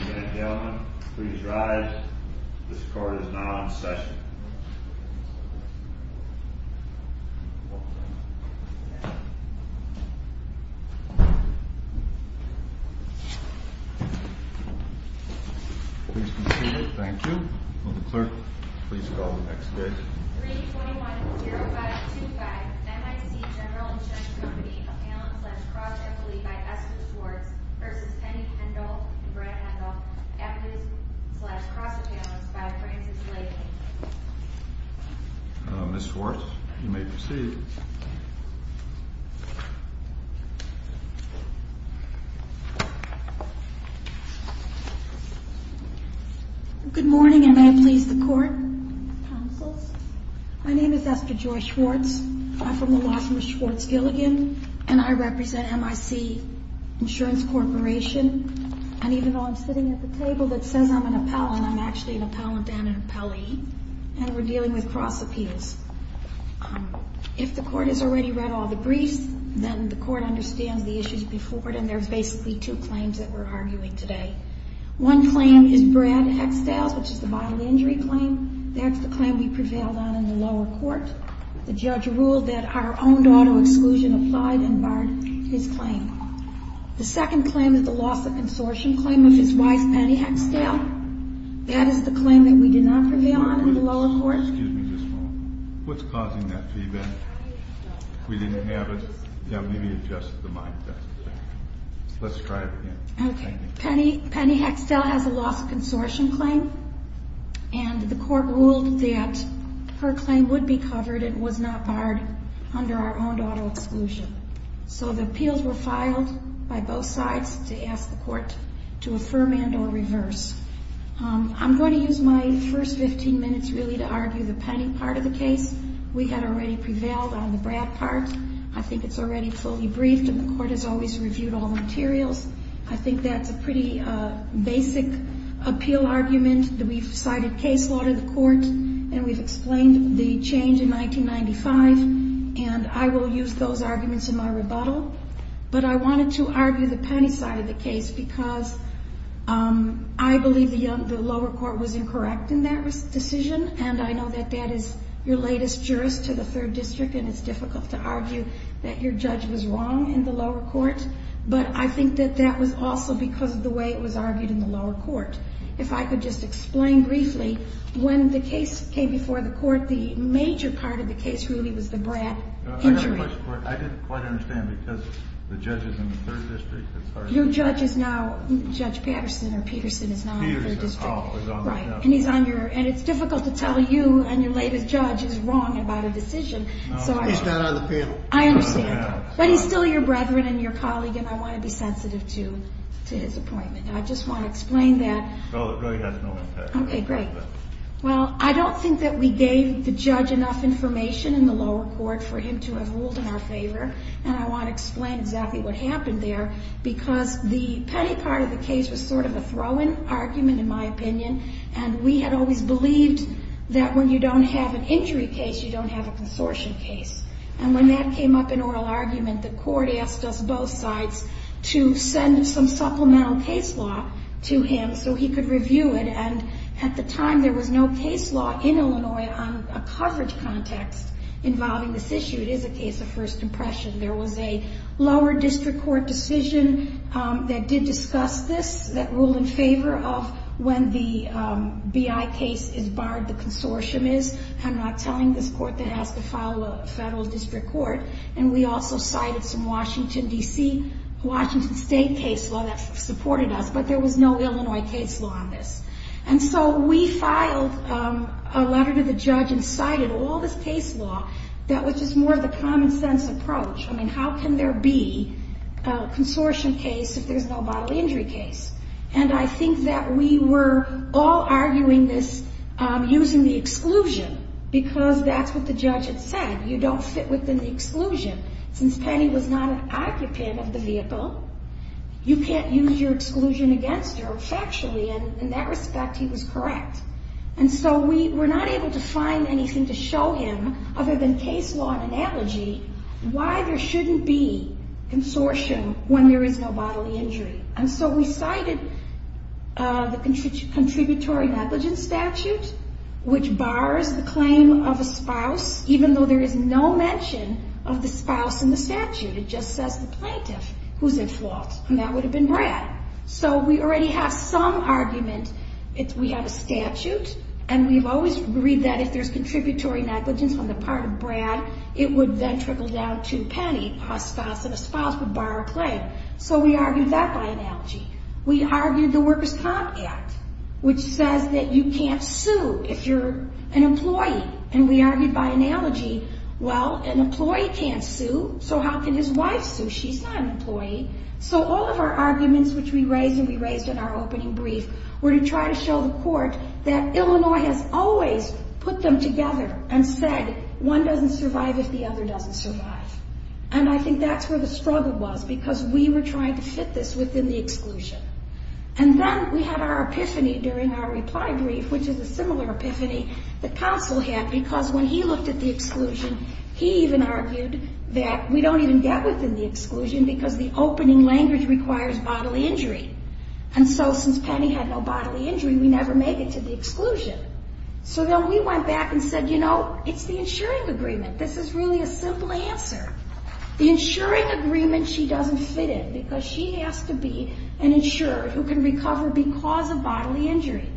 Ladies and gentlemen, please rise. This court is now in session. Please be seated. Thank you. Will the clerk please call the next case. 321-0525, M.I.C. General Insurance Company, Appellant-slash-Cross Appellee by Esther Schwartz v. Penny Hendel and Brent Hendel, Appendix-slash-Cross Appellants by Frances Layton Ms. Schwartz, you may proceed. Good morning, and may it please the Court. My name is Esther Joy Schwartz. I'm from the law firm Schwartz Gilligan, and I represent M.I.C. Insurance Corporation. And even though I'm sitting at the table that says I'm an appellant, I'm actually an appellant and an appellee, and we're dealing with cross appeals. If the Court has already read all the briefs, then the Court understands the issues before it, and there's basically two claims that we're arguing today. One claim is Brad Hexdall's, which is the bodily injury claim. That's the claim we prevailed on in the lower court. The judge ruled that our own daughter exclusion applied and barred his claim. The second claim is the loss of consortium claim of his wife, Penny Hexdall. That is the claim that we did not prevail on in the lower court. Excuse me just a moment. What's causing that feedback? We didn't have it? Yeah, maybe adjust the mic. Let's try it again. Penny Hexdall has a loss of consortium claim, and the Court ruled that her claim would be covered and was not barred under our own daughter exclusion. So the appeals were filed by both sides to ask the Court to affirm and or reverse. I'm going to use my first 15 minutes really to argue the Penny part of the case. We had already prevailed on the Brad part. I think it's already fully briefed, and the Court has always reviewed all materials. I think that's a pretty basic appeal argument that we've cited case law to the Court, and we've explained the change in 1995, and I will use those arguments in my rebuttal. But I wanted to argue the Penny side of the case because I believe the lower court was incorrect in that decision, and I know that that is your latest jurist to the Third District, and it's difficult to argue that your judge was wrong in the lower court. But I think that that was also because of the way it was argued in the lower court. If I could just explain briefly, when the case came before the Court, the major part of the case really was the Brad injury. I didn't quite understand because the judge is in the Third District. Your judge is now Judge Patterson, or Peterson is now in the Third District. Peterson, oh, he's on the panel. Right, and it's difficult to tell you and your latest judge is wrong about a decision. He's not on the panel. I understand, but he's still your brethren and your colleague, and I want to be sensitive to his appointment. I just want to explain that. Well, it really has no impact. Okay, great. Well, I don't think that we gave the judge enough information in the lower court for him to have ruled in our favor, and I want to explain exactly what happened there because the Penny part of the case was sort of a throw-in argument, in my opinion, and we had always believed that when you don't have an injury case, you don't have a consortium case. And when that came up in oral argument, the Court asked us both sides to send some supplemental case law to him so he could review it, and at the time, there was no case law in Illinois on a coverage context involving this issue. It is a case of first impression. There was a lower district court decision that did discuss this that ruled in favor of when the BI case is barred, the consortium is. I'm not telling this Court that it has to file a federal district court, and we also cited some Washington, D.C., Washington State case law that supported us, but there was no Illinois case law on this. And so we filed a letter to the judge and cited all this case law that was just more of the common-sense approach. I mean, how can there be a consortium case if there's no bodily injury case? And I think that we were all arguing this using the exclusion because that's what the judge had said. You don't fit within the exclusion. Since Penny was not an occupant of the vehicle, you can't use your exclusion against her factually, and in that respect, he was correct. And so we were not able to find anything to show him other than case law and analogy why there shouldn't be consortium when there is no bodily injury. And so we cited the contributory negligence statute, which bars the claim of a spouse even though there is no mention of the spouse in the statute. It just says the plaintiff who's at fault, and that would have been Brad. So we already have some argument that we have a statute, and we've always agreed that if there's contributory negligence on the part of Brad, it would then trickle down to Penny, a spouse, and a spouse would bar a claim. So we argued that by analogy. We argued the Workers' Comp Act, which says that you can't sue if you're an employee. And we argued by analogy, well, an employee can't sue, so how can his wife sue? She's not an employee. So all of our arguments, which we raised and we raised in our opening brief, were to try to show the court that Illinois has always put them together and said one doesn't survive if the other doesn't survive. And I think that's where the struggle was, because we were trying to fit this within the exclusion. And then we had our epiphany during our reply brief, which is a similar epiphany that counsel had, because when he looked at the exclusion, he even argued that we don't even get within the exclusion because the opening language requires bodily injury. And so since Penny had no bodily injury, we never made it to the exclusion. So then we went back and said, you know, it's the insuring agreement. This is really a simple answer. The insuring agreement, she doesn't fit in because she has to be an insured who can recover because of bodily injury.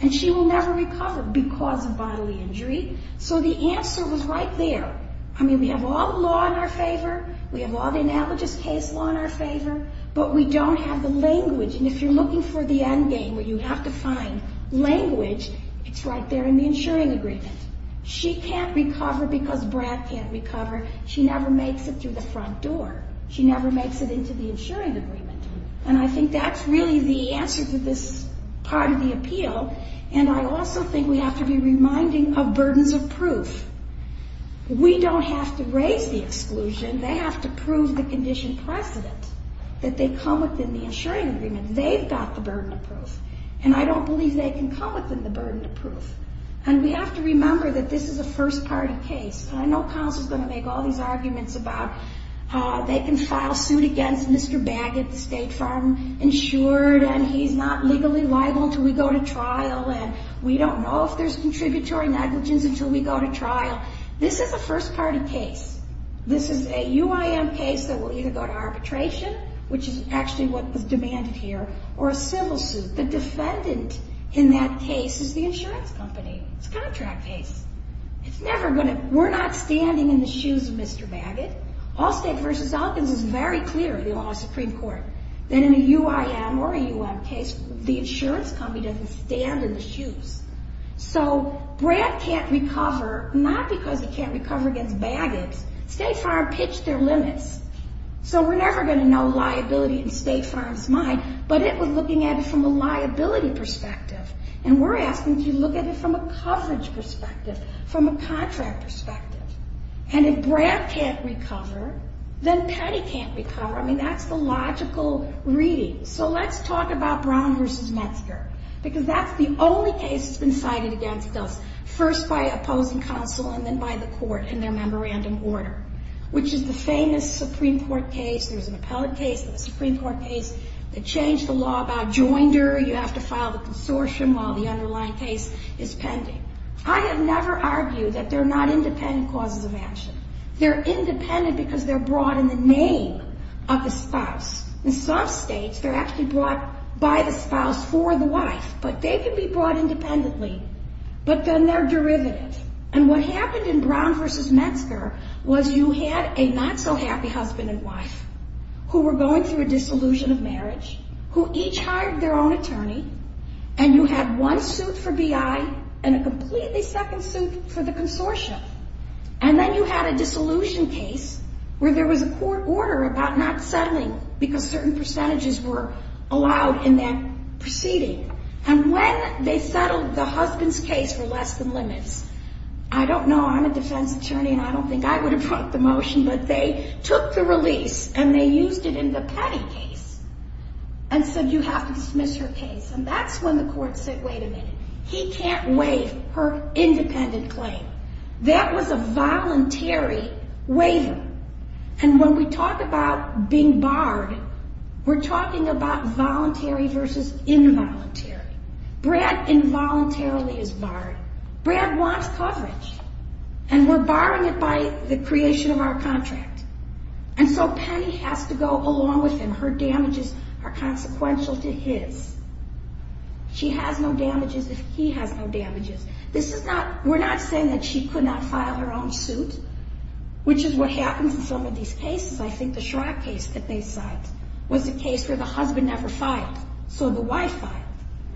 And she will never recover because of bodily injury. So the answer was right there. I mean, we have all the law in our favor. We have all the analogous case law in our favor. But we don't have the language. And if you're looking for the end game where you have to find language, it's right there in the insuring agreement. She can't recover because Brad can't recover. She never makes it through the front door. She never makes it into the insuring agreement. And I think that's really the answer to this part of the appeal. And I also think we have to be reminding of burdens of proof. We don't have to raise the exclusion. They have to prove the condition precedent that they come within the insuring agreement. They've got the burden of proof. And I don't believe they can come within the burden of proof. And we have to remember that this is a first-party case. I know counsel's going to make all these arguments about they can file suit against Mr. Baggett, the state farm insured, and he's not legally liable until we go to trial, and we don't know if there's contributory negligence until we go to trial. This is a first-party case. This is a UIM case that will either go to arbitration, which is actually what was demanded here, or a civil suit. The defendant in that case is the insurance company. It's a contract case. It's never going to – we're not standing in the shoes of Mr. Baggett. Allstate v. Elkins is very clear in the Ohio Supreme Court that in a UIM or a U.M. case, the insurance company doesn't stand in the shoes. So Brad can't recover not because he can't recover against Baggett. State farm pitched their limits. So we're never going to know liability in state farm's mind, but it was looking at it from a liability perspective, and we're asking if you look at it from a coverage perspective, from a contract perspective. And if Brad can't recover, then Patty can't recover. I mean, that's the logical reading. So let's talk about Brown v. Metzger because that's the only case that's been cited against us, first by opposing counsel and then by the court in their memorandum order, which is the famous Supreme Court case. There's an appellate case and a Supreme Court case that changed the law about joinder. You have to file the consortium while the underlying case is pending. I have never argued that they're not independent causes of action. They're independent because they're brought in the name of the spouse. In some states, they're actually brought by the spouse for the wife, but they can be brought independently. But then they're derivative. And what happened in Brown v. Metzger was you had a not-so-happy husband and wife who were going through a dissolution of marriage, who each hired their own attorney, and you had one suit for BI and a completely second suit for the consortium. And then you had a dissolution case where there was a court order about not settling because certain percentages were allowed in that proceeding. And when they settled the husband's case for less than limits, I don't know, I'm a defense attorney and I don't think I would have brought the motion, but they took the release and they used it in the Petty case and said, you have to dismiss her case. And that's when the court said, wait a minute, he can't waive her independent claim. That was a voluntary waiver. And when we talk about being barred, we're talking about voluntary versus involuntary. Brad involuntarily is barred. Brad wants coverage, and we're barring it by the creation of our contract. And so Penny has to go along with him. Her damages are consequential to his. She has no damages if he has no damages. We're not saying that she could not file her own suit, which is what happens in some of these cases. I think the Schrock case that they cite was a case where the husband never filed, so the wife filed.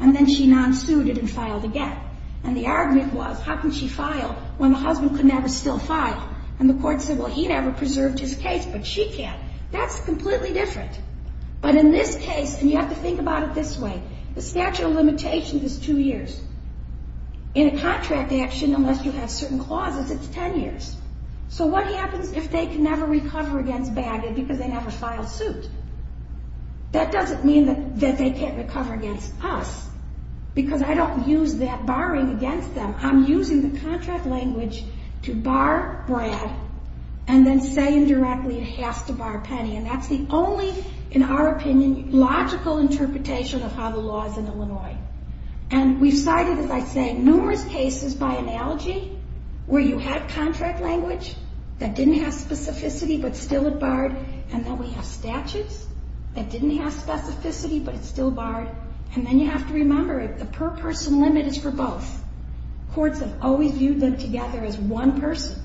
And then she non-suited and filed again. And the argument was, how can she file when the husband could never still file? And the court said, well, he never preserved his case, but she can. That's completely different. But in this case, and you have to think about it this way, the statute of limitations is two years. In a contract action, unless you have certain clauses, it's ten years. So what happens if they can never recover against Bagot because they never filed suit? That doesn't mean that they can't recover against us, because I don't use that barring against them. I'm using the contract language to bar Brad and then say indirectly it has to bar Penny. And that's the only, in our opinion, logical interpretation of how the law is in Illinois. And we've cited, as I say, numerous cases by analogy where you have contract language that didn't have specificity but still it barred, and then we have statutes that didn't have specificity but it still barred. And then you have to remember, the per-person limit is for both. Courts have always viewed them together as one person.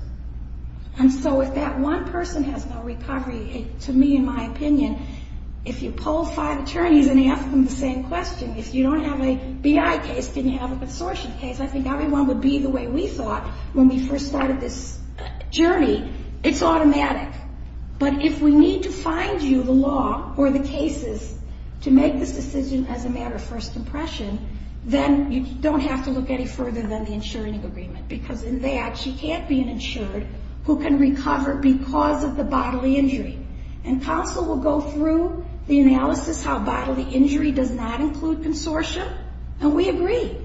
And so if that one person has no recovery, to me, in my opinion, if you poll five attorneys and ask them the same question, if you don't have a BI case, can you have a consortium case, I think everyone would be the way we thought when we first started this journey. It's automatic. But if we need to find you the law or the cases to make this decision as a matter of first impression, then you don't have to look any further than the insuring agreement, because in that she can't be an insured who can recover because of the bodily injury. And counsel will go through the analysis how bodily injury does not include consortium, and we agree,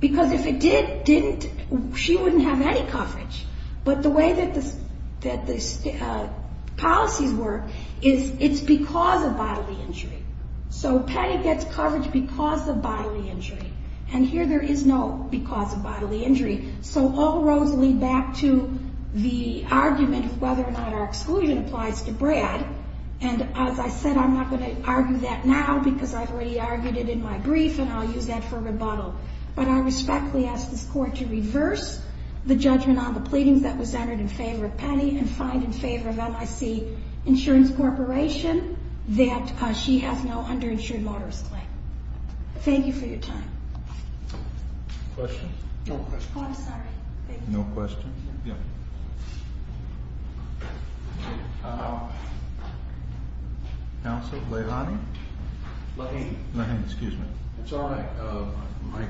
because if it did, didn't, she wouldn't have any coverage. But the way that the policies work is it's because of bodily injury. So Patty gets coverage because of bodily injury, and here there is no because of bodily injury. So all roads lead back to the argument of whether or not our exclusion applies to Brad. And as I said, I'm not going to argue that now because I've already argued it in my brief, and I'll use that for rebuttal. But I respectfully ask this Court to reverse the judgment on the pleadings that was entered in favor of Penny and find in favor of MIC Insurance Corporation that she has no underinsured motorist claim. Thank you for your time. Questions? No questions. Oh, I'm sorry. No questions? Yeah. Counsel? Lehani? Lehani. Lehani, excuse me. It's all right. My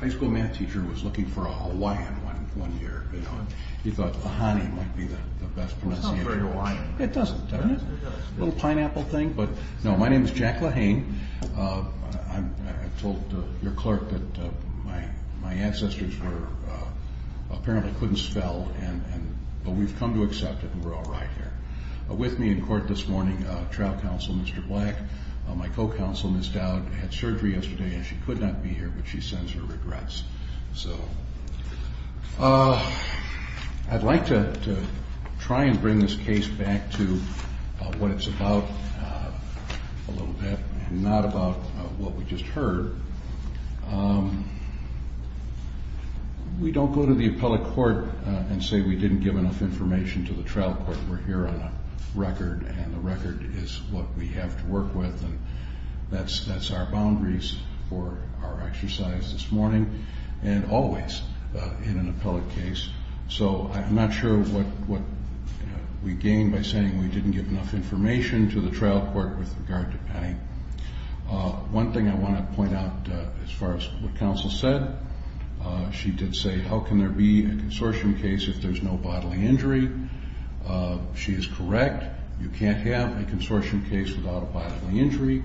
high school math teacher was looking for a Hawaiian one year, you know, and he thought Lehani might be the best pronunciation. It's not very Hawaiian. It doesn't, does it? It does. A little pineapple thing, but no. My name is Jack Lehani. I told your clerk that my ancestors apparently couldn't spell, but we've come to accept it, and we're all right here. With me in court this morning, trial counsel Mr. Black. My co-counsel, Ms. Dowd, had surgery yesterday, and she could not be here, but she sends her regrets. So I'd like to try and bring this case back to what it's about a little bit, and not about what we just heard. We don't go to the appellate court and say we didn't give enough information to the trial court. We're here on a record, and the record is what we have to work with, and that's our boundaries for our exercise this morning, and always in an appellate case. So I'm not sure what we gain by saying we didn't give enough information to the trial court with regard to Penny. One thing I want to point out as far as what counsel said, she did say, how can there be a consortium case if there's no bodily injury? She is correct. You can't have a consortium case without a bodily injury.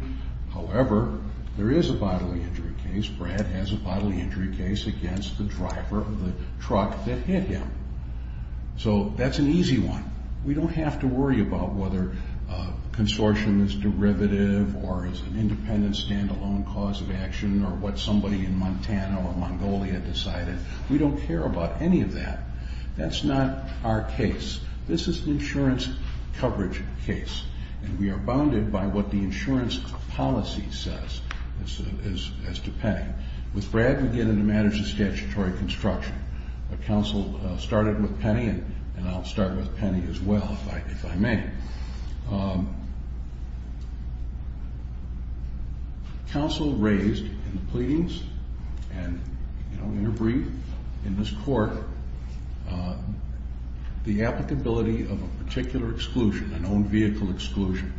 However, there is a bodily injury case. Brad has a bodily injury case against the driver of the truck that hit him. So that's an easy one. We don't have to worry about whether a consortium is derivative or is an independent standalone cause of action or what somebody in Montana or Mongolia decided. We don't care about any of that. That's not our case. This is an insurance coverage case, and we are bounded by what the insurance policy says as to Penny. With Brad, we get into matters of statutory construction. Counsel started with Penny, and I'll start with Penny as well if I may. Counsel raised in the pleadings and in her brief in this court the applicability of a particular exclusion, an owned vehicle exclusion,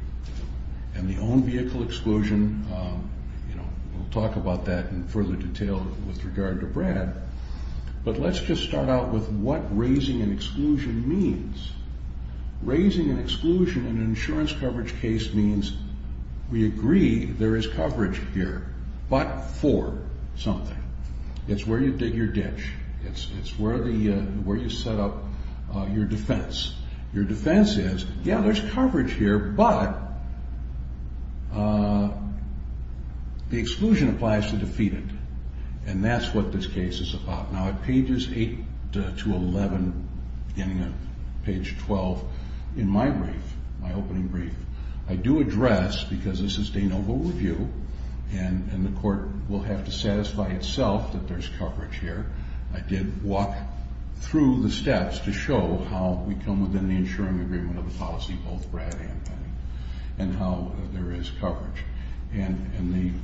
and the owned vehicle exclusion, we'll talk about that in further detail with regard to Brad, but let's just start out with what raising an exclusion means. Raising an exclusion in an insurance coverage case means we agree there is coverage here, but for something. It's where you dig your ditch. It's where you set up your defense. Your defense is, yeah, there's coverage here, but the exclusion applies to the defendant, and that's what this case is about. Now, at pages 8 to 11, beginning of page 12, in my brief, my opening brief, I do address, because this is de novo review, and the court will have to satisfy itself that there's coverage here, I did walk through the steps to show how we come within the insuring agreement of the policy, both Brad and Penny, and how there is coverage. And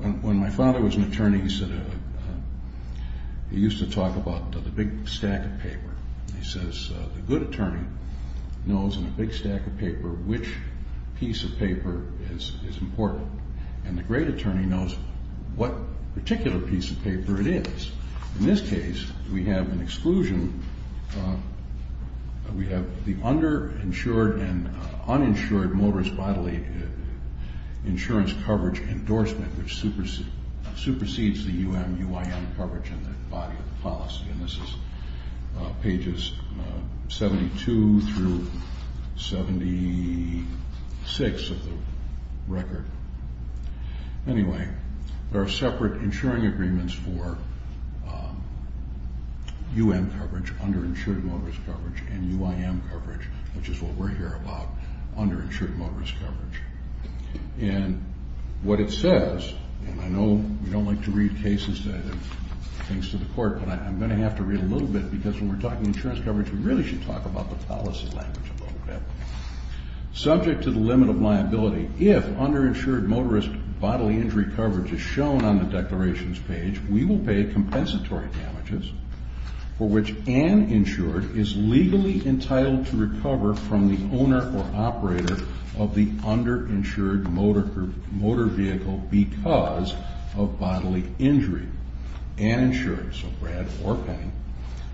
when my father was an attorney, he used to talk about the big stack of paper. He says the good attorney knows in a big stack of paper which piece of paper is important, and the great attorney knows what particular piece of paper it is. In this case, we have an exclusion. We have the underinsured and uninsured motorist bodily insurance coverage endorsement, which supersedes the UMUIM coverage in the body of the policy, and this is pages 72 through 76 of the record. Anyway, there are separate insuring agreements for UM coverage, underinsured motorist coverage, and UIM coverage, which is what we're here about, underinsured motorist coverage. And what it says, and I know we don't like to read cases that have things to the court, but I'm going to have to read a little bit because when we're talking insurance coverage, we really should talk about the policy language a little bit. Subject to the limit of liability, if underinsured motorist bodily injury coverage is shown on the declarations page, we will pay compensatory damages for which an insured is legally entitled to recover from the owner or operator of the underinsured motor vehicle because of bodily injury. And insured, so Brad or Penny,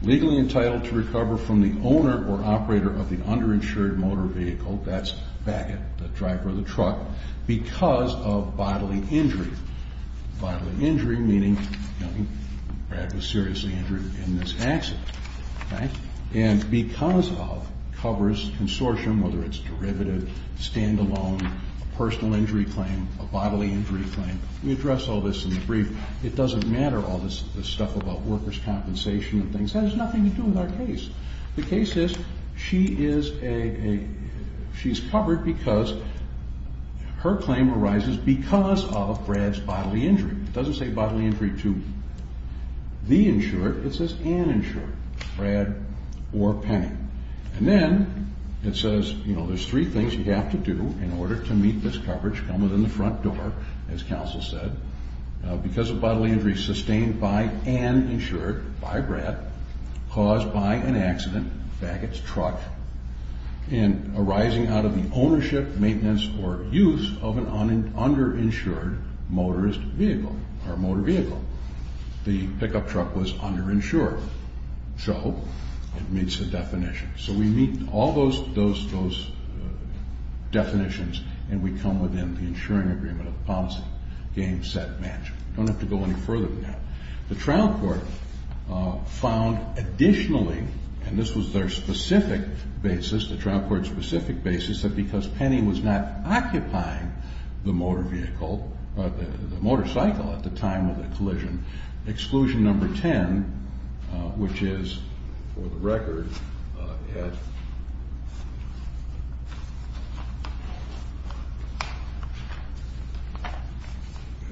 legally entitled to recover from the owner or operator of the underinsured motor vehicle, that's Bagot, the driver of the truck, because of bodily injury. Bodily injury meaning Brad was seriously injured in this accident. And because of covers consortium, whether it's derivative, standalone, personal injury claim, a bodily injury claim. We address all this in the brief. It doesn't matter all this stuff about workers' compensation and things. That has nothing to do with our case. The case is she is a, she's covered because her claim arises because of Brad's bodily injury. It doesn't say bodily injury to the insured. It says an insured, Brad or Penny. And then it says, you know, there's three things you have to do in order to meet this coverage, come within the front door, as counsel said, because of bodily injury sustained by and insured by Brad caused by an accident, Bagot's truck, and arising out of the ownership, maintenance, or use of an underinsured motorist vehicle or motor vehicle. The pickup truck was underinsured. So it meets the definition. So we meet all those definitions and we come within the insuring agreement of policy, game, set, match. We don't have to go any further than that. The trial court found additionally, and this was their specific basis, the trial court's specific basis, that because Penny was not occupying the motor vehicle, the motorcycle at the time of the collision, exclusion number 10, which is, for the record, at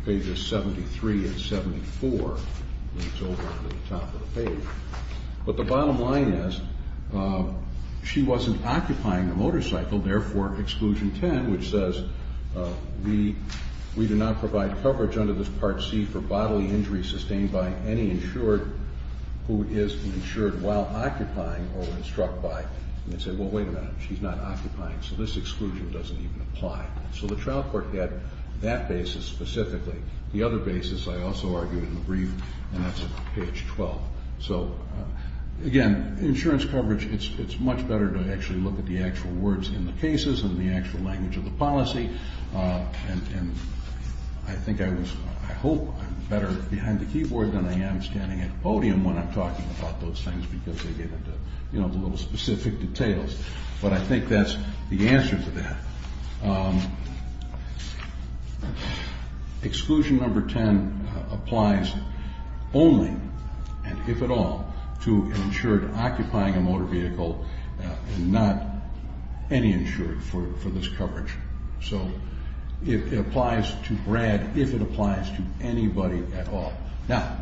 pages 73 and 74. It's over at the top of the page. But the bottom line is she wasn't occupying the motorcycle, therefore, exclusion 10, which says we do not provide coverage under this Part C for bodily injury sustained by any insured who is insured while occupying or when struck by. And they say, well, wait a minute, she's not occupying, so this exclusion doesn't even apply. So the trial court had that basis specifically. The other basis, I also argued in the brief, and that's at page 12. So, again, insurance coverage, it's much better to actually look at the actual words in the cases and the actual language of the policy. And I think I was, I hope I'm better behind the keyboard than I am standing at a podium when I'm talking about those things because they get into the little specific details. But I think that's the answer to that. Exclusion number 10 applies only, and if at all, to insured occupying a motor vehicle and not any insured for this coverage. So it applies to Brad if it applies to anybody at all. Now,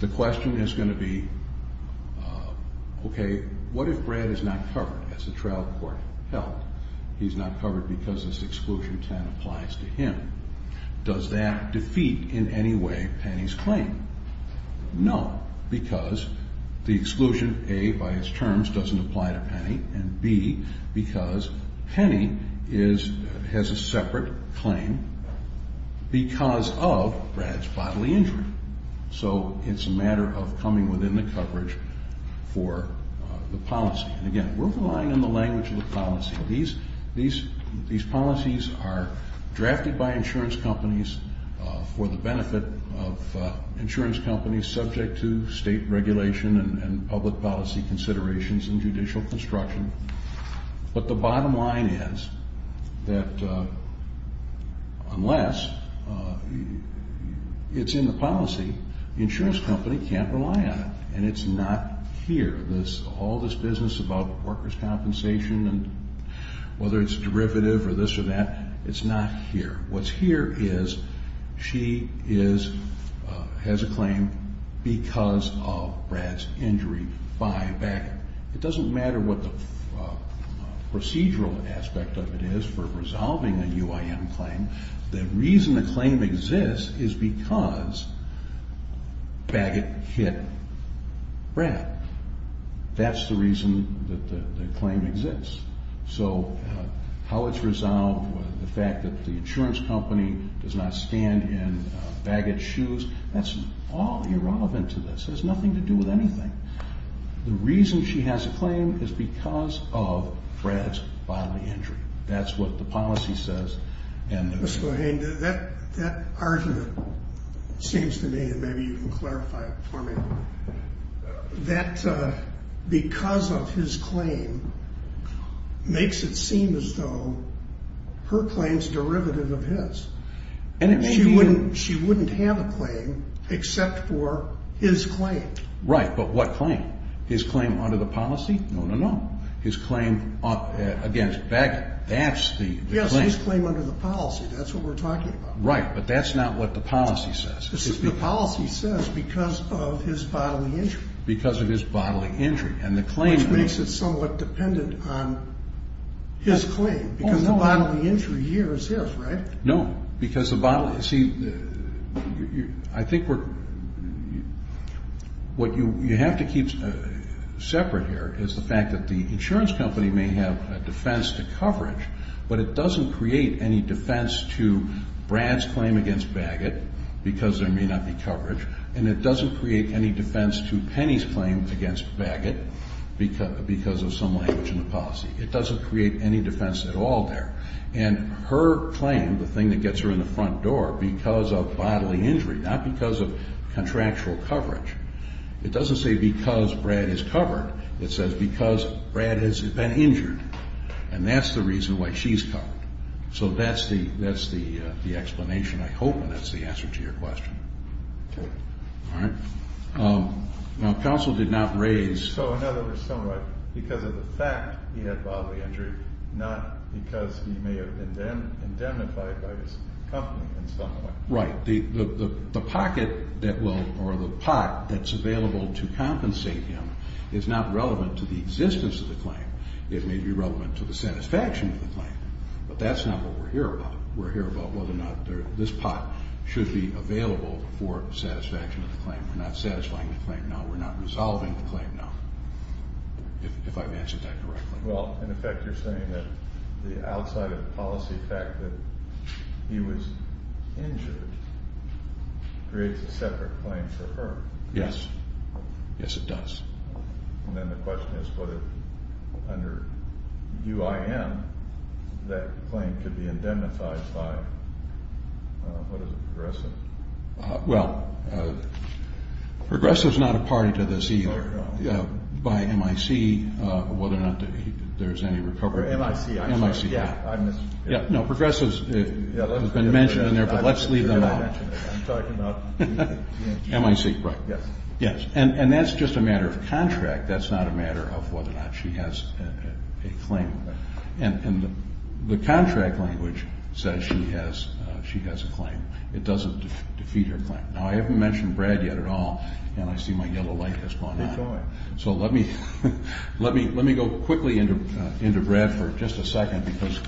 the question is going to be, okay, what if Brad is not covered as the trial court held? He's not covered because this exclusion 10 applies to him. Does that defeat in any way Penny's claim? No, because the exclusion A, by its terms, doesn't apply to Penny, and B, because Penny has a separate claim because of Brad's bodily injury. So it's a matter of coming within the coverage for the policy. And, again, we're relying on the language of the policy. These policies are drafted by insurance companies for the benefit of insurance companies subject to state regulation and public policy considerations and judicial construction. But the bottom line is that unless it's in the policy, the insurance company can't rely on it, and it's not here. All this business about workers' compensation and whether it's derivative or this or that, it's not here. What's here is she has a claim because of Brad's injury by Bagot. It doesn't matter what the procedural aspect of it is for resolving a UIM claim. The reason the claim exists is because Bagot hit Brad. That's the reason that the claim exists. So how it's resolved, the fact that the insurance company does not stand in Bagot's shoes, that's all irrelevant to this. It has nothing to do with anything. The reason she has a claim is because of Brad's bodily injury. That's what the policy says. Mr. Bohane, that argument seems to me, and maybe you can clarify it for me, that because of his claim makes it seem as though her claim is derivative of his. She wouldn't have a claim except for his claim. Right, but what claim? His claim under the policy? No, no, no. His claim against Bagot, that's the claim. Yes, his claim under the policy. That's what we're talking about. Right, but that's not what the policy says. The policy says because of his bodily injury. Because of his bodily injury. Which makes it somewhat dependent on his claim because the bodily injury here is his, right? No. See, I think what you have to keep separate here is the fact that the insurance company may have a defense to coverage, but it doesn't create any defense to Brad's claim against Bagot because there may not be coverage, and it doesn't create any defense to Penny's claim against Bagot because of some language in the policy. It doesn't create any defense at all there. And her claim, the thing that gets her in the front door, because of bodily injury, not because of contractual coverage. It doesn't say because Brad is covered. It says because Brad has been injured, and that's the reason why she's covered. So that's the explanation, I hope, and that's the answer to your question. Okay. All right. Now, counsel did not raise. So in other words, somewhat because of the fact he had bodily injury, not because he may have been indemnified by his company in some way. Right. The pocket that will or the pot that's available to compensate him is not relevant to the existence of the claim. It may be relevant to the satisfaction of the claim, but that's not what we're here about. We're here about whether or not this pot should be available for satisfaction of the claim. We're not satisfying the claim now. We're not resolving the claim now, if I've answered that correctly. Well, in effect, you're saying that the outside of the policy fact that he was injured creates a separate claim for her. Yes. Yes, it does. And then the question is whether under UIN, that claim could be indemnified by, what is it, Progressive? Well, Progressive is not a party to this either. No, no. By MIC, whether or not there's any recovery. Or MIC. MIC. Yeah. No, Progressive has been mentioned in there, but let's leave them out. I'm talking about. MIC. Right. Yes. Yes. And that's just a matter of contract. That's not a matter of whether or not she has a claim. And the contract language says she has a claim. It doesn't defeat her claim. Now, I haven't mentioned Brad yet at all, and I see my yellow light has gone on. Keep going. So let me go quickly into Brad for just a second because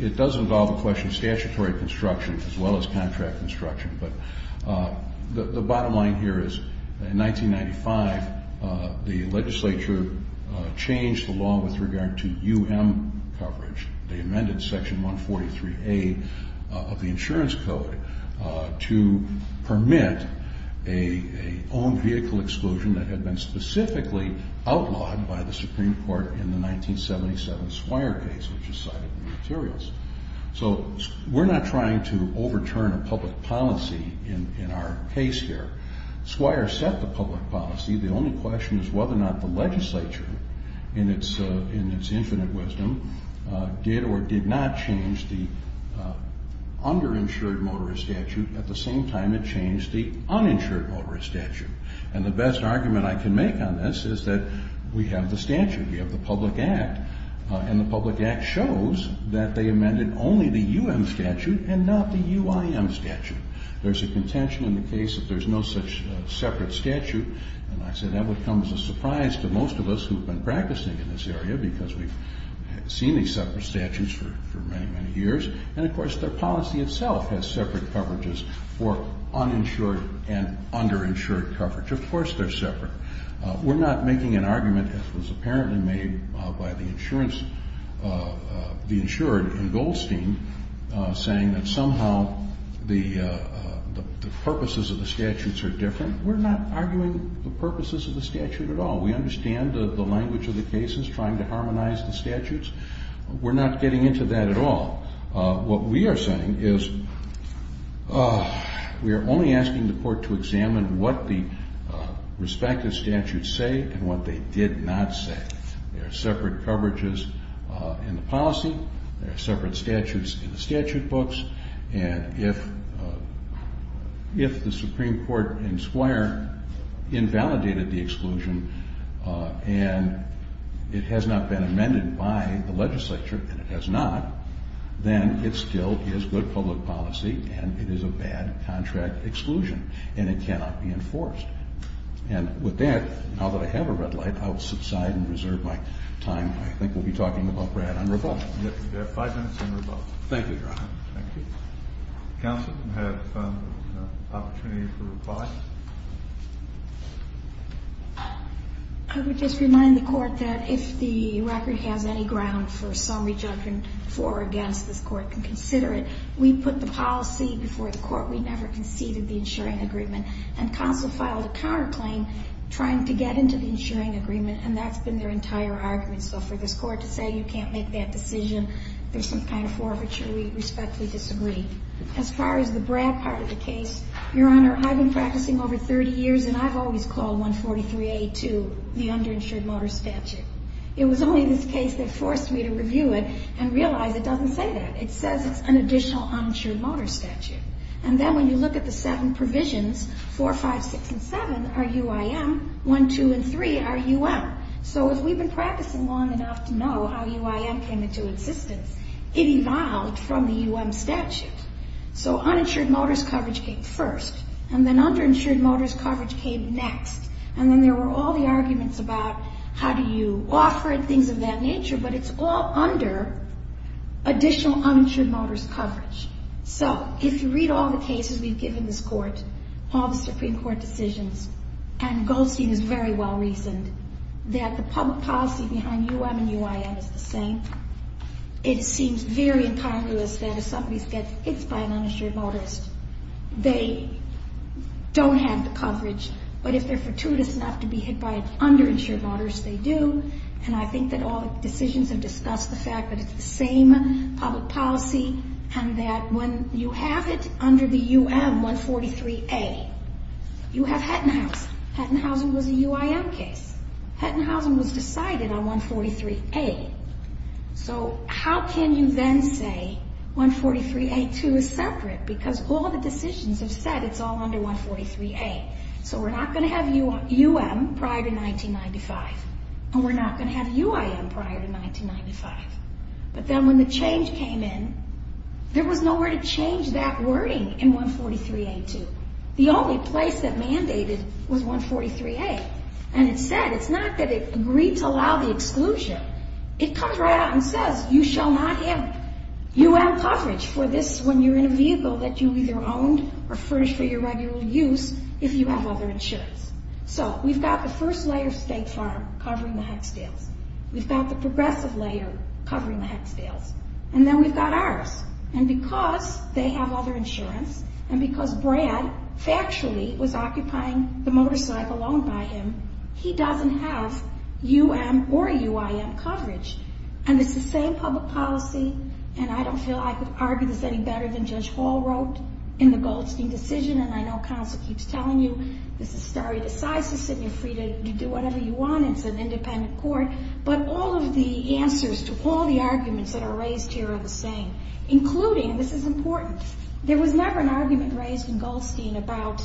it does involve a question of statutory construction as well as contract construction. But the bottom line here is in 1995, the legislature changed the law with regard to UM coverage. They amended Section 143A of the Insurance Code to permit a owned vehicle exclusion that had been specifically outlawed by the Supreme Court in the 1977 Swire case, which is cited in the materials. So we're not trying to overturn a public policy in our case here. Swire set the public policy. The only question is whether or not the legislature, in its infinite wisdom, did or did not change the underinsured motorist statute. At the same time, it changed the uninsured motorist statute. And the best argument I can make on this is that we have the statute. We have the public act. And the public act shows that they amended only the UM statute and not the UIM statute. There's a contention in the case that there's no such separate statute. And I say that would come as a surprise to most of us who have been practicing in this area because we've seen these separate statutes for many, many years. And, of course, their policy itself has separate coverages for uninsured and underinsured coverage. Of course they're separate. We're not making an argument that was apparently made by the insurance, the insured in Goldstein, saying that somehow the purposes of the statutes are different. We're not arguing the purposes of the statute at all. We understand the language of the cases, trying to harmonize the statutes. We're not getting into that at all. What we are saying is we are only asking the court to examine what the respective statutes say and what they did not say. There are separate coverages in the policy. There are separate statutes in the statute books. And if the Supreme Court in Squire invalidated the exclusion and it has not been amended by the legislature, and it has not, then it still is good public policy and it is a bad contract exclusion. And it cannot be enforced. And with that, now that I have a red light, I will subside and reserve my time. I think we'll be talking about Brad on rebuttal. We have five minutes on rebuttal. Thank you, Your Honor. Thank you. Counsel can have an opportunity for reply. I would just remind the court that if the record has any ground for some rejection for or against, this court can consider it. We put the policy before the court. We never conceded the insuring agreement. And counsel filed a counterclaim trying to get into the insuring agreement, and that's been their entire argument. So for this court to say you can't make that decision, there's some kind of forfeiture. We respectfully disagree. As far as the Brad part of the case, Your Honor, I've been practicing over 30 years, and I've always called 143A to the underinsured motor statute. It was only this case that forced me to review it and realize it doesn't say that. It says it's an additional uninsured motor statute. And then when you look at the seven provisions, 4, 5, 6, and 7 are UIM. 1, 2, and 3 are UM. So as we've been practicing long enough to know how UIM came into existence, it evolved from the UM statute. So uninsured motors coverage came first, and then underinsured motors coverage came next. And then there were all the arguments about how do you offer and things of that nature, but it's all under additional uninsured motors coverage. So if you read all the cases we've given this court, all the Supreme Court decisions, and Goldstein is very well-reasoned, that the public policy behind UM and UIM is the same. It seems very incongruous that if somebody gets hit by an uninsured motorist, they don't have the coverage. But if they're fortuitous enough to be hit by an underinsured motorist, they do. And I think that all the decisions have discussed the fact that it's the same public policy, and that when you have it under the UM 143A, you have Hettenhausen. Hettenhausen was a UIM case. Hettenhausen was decided on 143A. So how can you then say 143A2 is separate? Because all the decisions have said it's all under 143A. So we're not going to have UM prior to 1995, and we're not going to have UIM prior to 1995. But then when the change came in, there was nowhere to change that wording in 143A2. The only place that mandated was 143A. And it said it's not that it agreed to allow the exclusion. It comes right out and says you shall not have UM coverage for this when you're in a vehicle that you either owned or furnished for your regular use if you have other insurance. So we've got the first layer of State Farm covering the Hecksdales. We've got the progressive layer covering the Hecksdales. And then we've got ours. And because they have other insurance, and because Brad factually was occupying the motorcycle owned by him, he doesn't have UM or UIM coverage. And it's the same public policy, and I don't feel I could argue this any better than Judge Hall wrote in the Goldstein decision. And I know counsel keeps telling you this is stare decisis, and you're free to do whatever you want. It's an independent court. But all of the answers to all the arguments that are raised here are the same, including, and this is important, there was never an argument raised in Goldstein about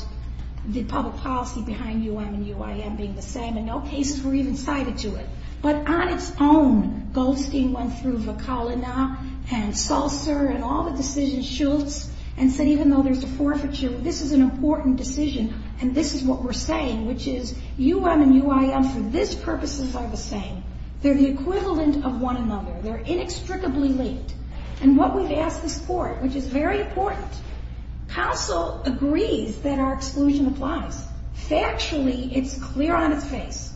the public policy behind UM and UIM being the same, and no cases were even cited to it. But on its own, Goldstein went through Vakalina and Sulcer and all the decisions, Schultz, and said even though there's a forfeiture, this is an important decision, and this is what we're saying, which is UM and UIM for this purpose are the same. They're the equivalent of one another. They're inextricably linked. And what we've asked this court, which is very important, counsel agrees that our exclusion applies. Factually, it's clear on its face.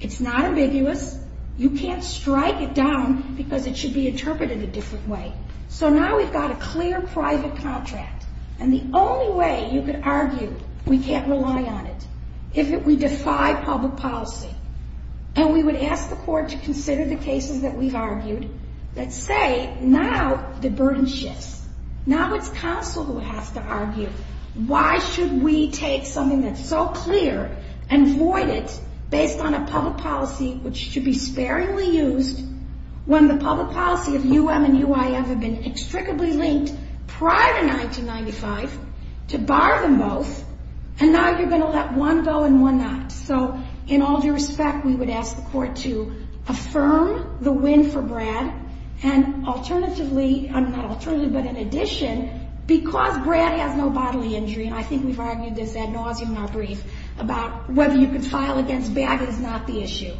It's not ambiguous. You can't strike it down because it should be interpreted a different way. So now we've got a clear private contract, and the only way you could argue we can't rely on it if we defy public policy, and we would ask the court to consider the cases that we've argued that say now the burden shifts. Now it's counsel who has to argue why should we take something that's so clear and void it based on a public policy which should be sparingly used when the public policy of UM and UIM have been inextricably linked prior to 1995 to bar them both, and now you're going to let one go and one not. So in all due respect, we would ask the court to affirm the win for Brad, and alternatively, not alternatively, but in addition, because Brad has no bodily injury, and I think we've argued this ad nauseum in our brief about whether you can file against Bagot is not the issue.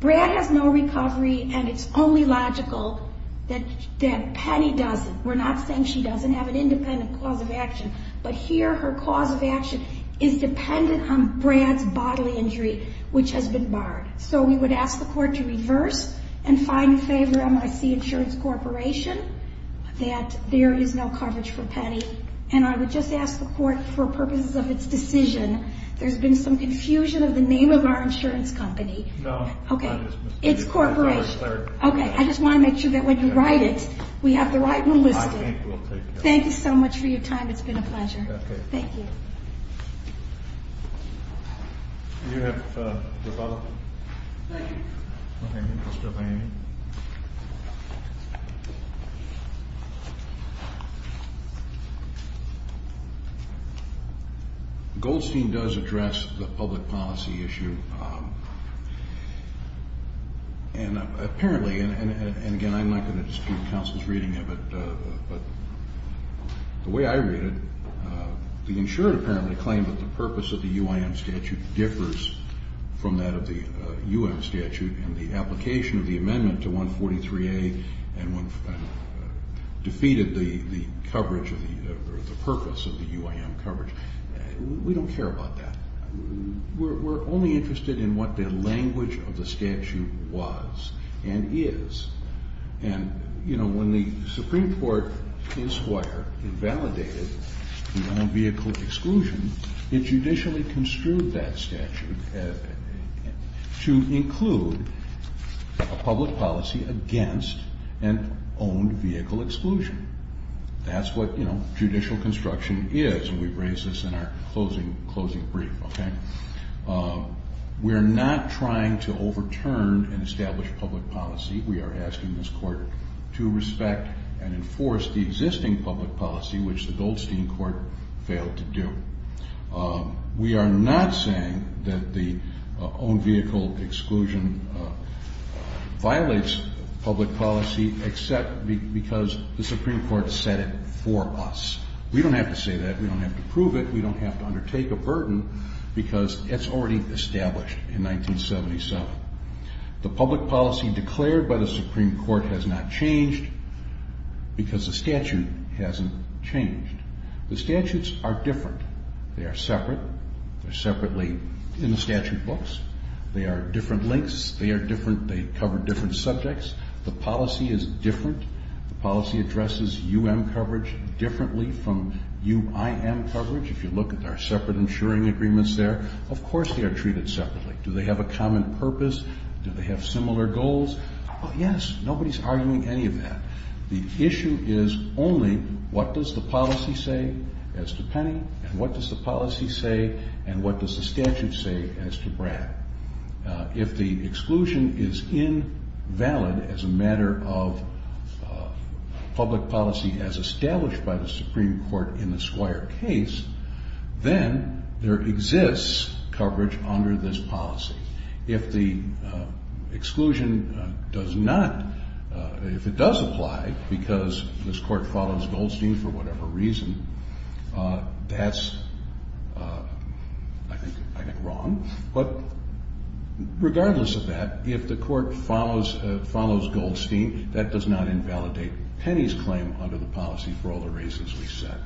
Brad has no recovery, and it's only logical that Penny doesn't. We're not saying she doesn't have an independent cause of action, but here her cause of action is dependent on Brad's bodily injury, which has been barred. So we would ask the court to reverse and find in favor of MIC Insurance Corporation that there is no coverage for Penny, and I would just ask the court for purposes of its decision, there's been some confusion of the name of our insurance company. No. Okay. It's Corporation. Okay. I just want to make sure that when you write it, we have the right one listed. I think we'll take care of it. Thank you so much for your time. It's been a pleasure. Okay. Thank you. Do you have your file? Thank you. Okay. Mr. O'Hanlon. Goldstein does address the public policy issue, and apparently, and again, I'm not going to dispute counsel's reading of it, but the way I read it, the insured apparently claimed that the purpose of the UIM statute differs from that of the UIM statute, and the application of the amendment to 143A defeated the purpose of the UIM coverage. We don't care about that. We're only interested in what the language of the statute was and is, and, you know, when the Supreme Court in Squire invalidated the non-vehicle exclusion, it judicially construed that statute to include a public policy against an owned vehicle exclusion. That's what, you know, judicial construction is, and we've raised this in our closing brief, okay? We are not trying to overturn an established public policy. We are asking this Court to respect and enforce the existing public policy, which the Goldstein Court failed to do. We are not saying that the owned vehicle exclusion violates public policy except because the Supreme Court set it for us. We don't have to say that. We don't have to prove it. We don't have to undertake a burden because it's already established in 1977. The public policy declared by the Supreme Court has not changed because the statute hasn't changed. The statutes are different. They are separate. They're separately in the statute books. They are different lengths. They are different. They cover different subjects. The policy is different. The policy addresses UM coverage differently from UIM coverage. If you look at our separate insuring agreements there, of course they are treated separately. Do they have a common purpose? Do they have similar goals? Yes. Nobody is arguing any of that. The issue is only what does the policy say as to Penny and what does the policy say and what does the statute say as to Brad. If the exclusion is invalid as a matter of public policy as established by the Supreme Court in the Squire case, then there exists coverage under this policy. If the exclusion does not, if it does apply because this court follows Goldstein for whatever reason, that's I think wrong. But regardless of that, if the court follows Goldstein, that does not invalidate Penny's claim under the policy for all the reasons we've said.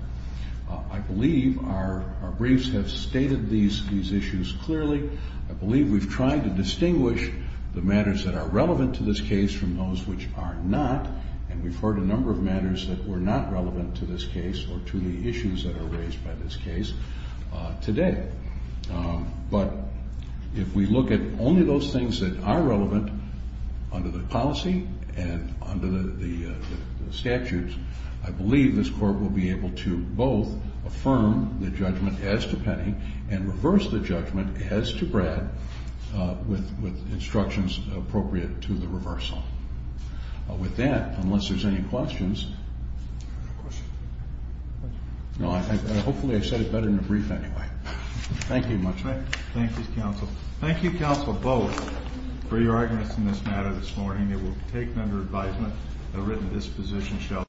I believe our briefs have stated these issues clearly. I believe we've tried to distinguish the matters that are relevant to this case from those which are not, and we've heard a number of matters that were not relevant to this case or to the issues that are raised by this case today. But if we look at only those things that are relevant under the policy and under the statutes, I believe this court will be able to both affirm the judgment as to Penny and reverse the judgment as to Brad with instructions appropriate to the reversal. With that, unless there's any questions. No, I think, hopefully I said it better in the brief anyway. Thank you much. Thank you, counsel. Thank you, counsel, both for your arguments in this matter this morning. It will take under advisement a written disposition.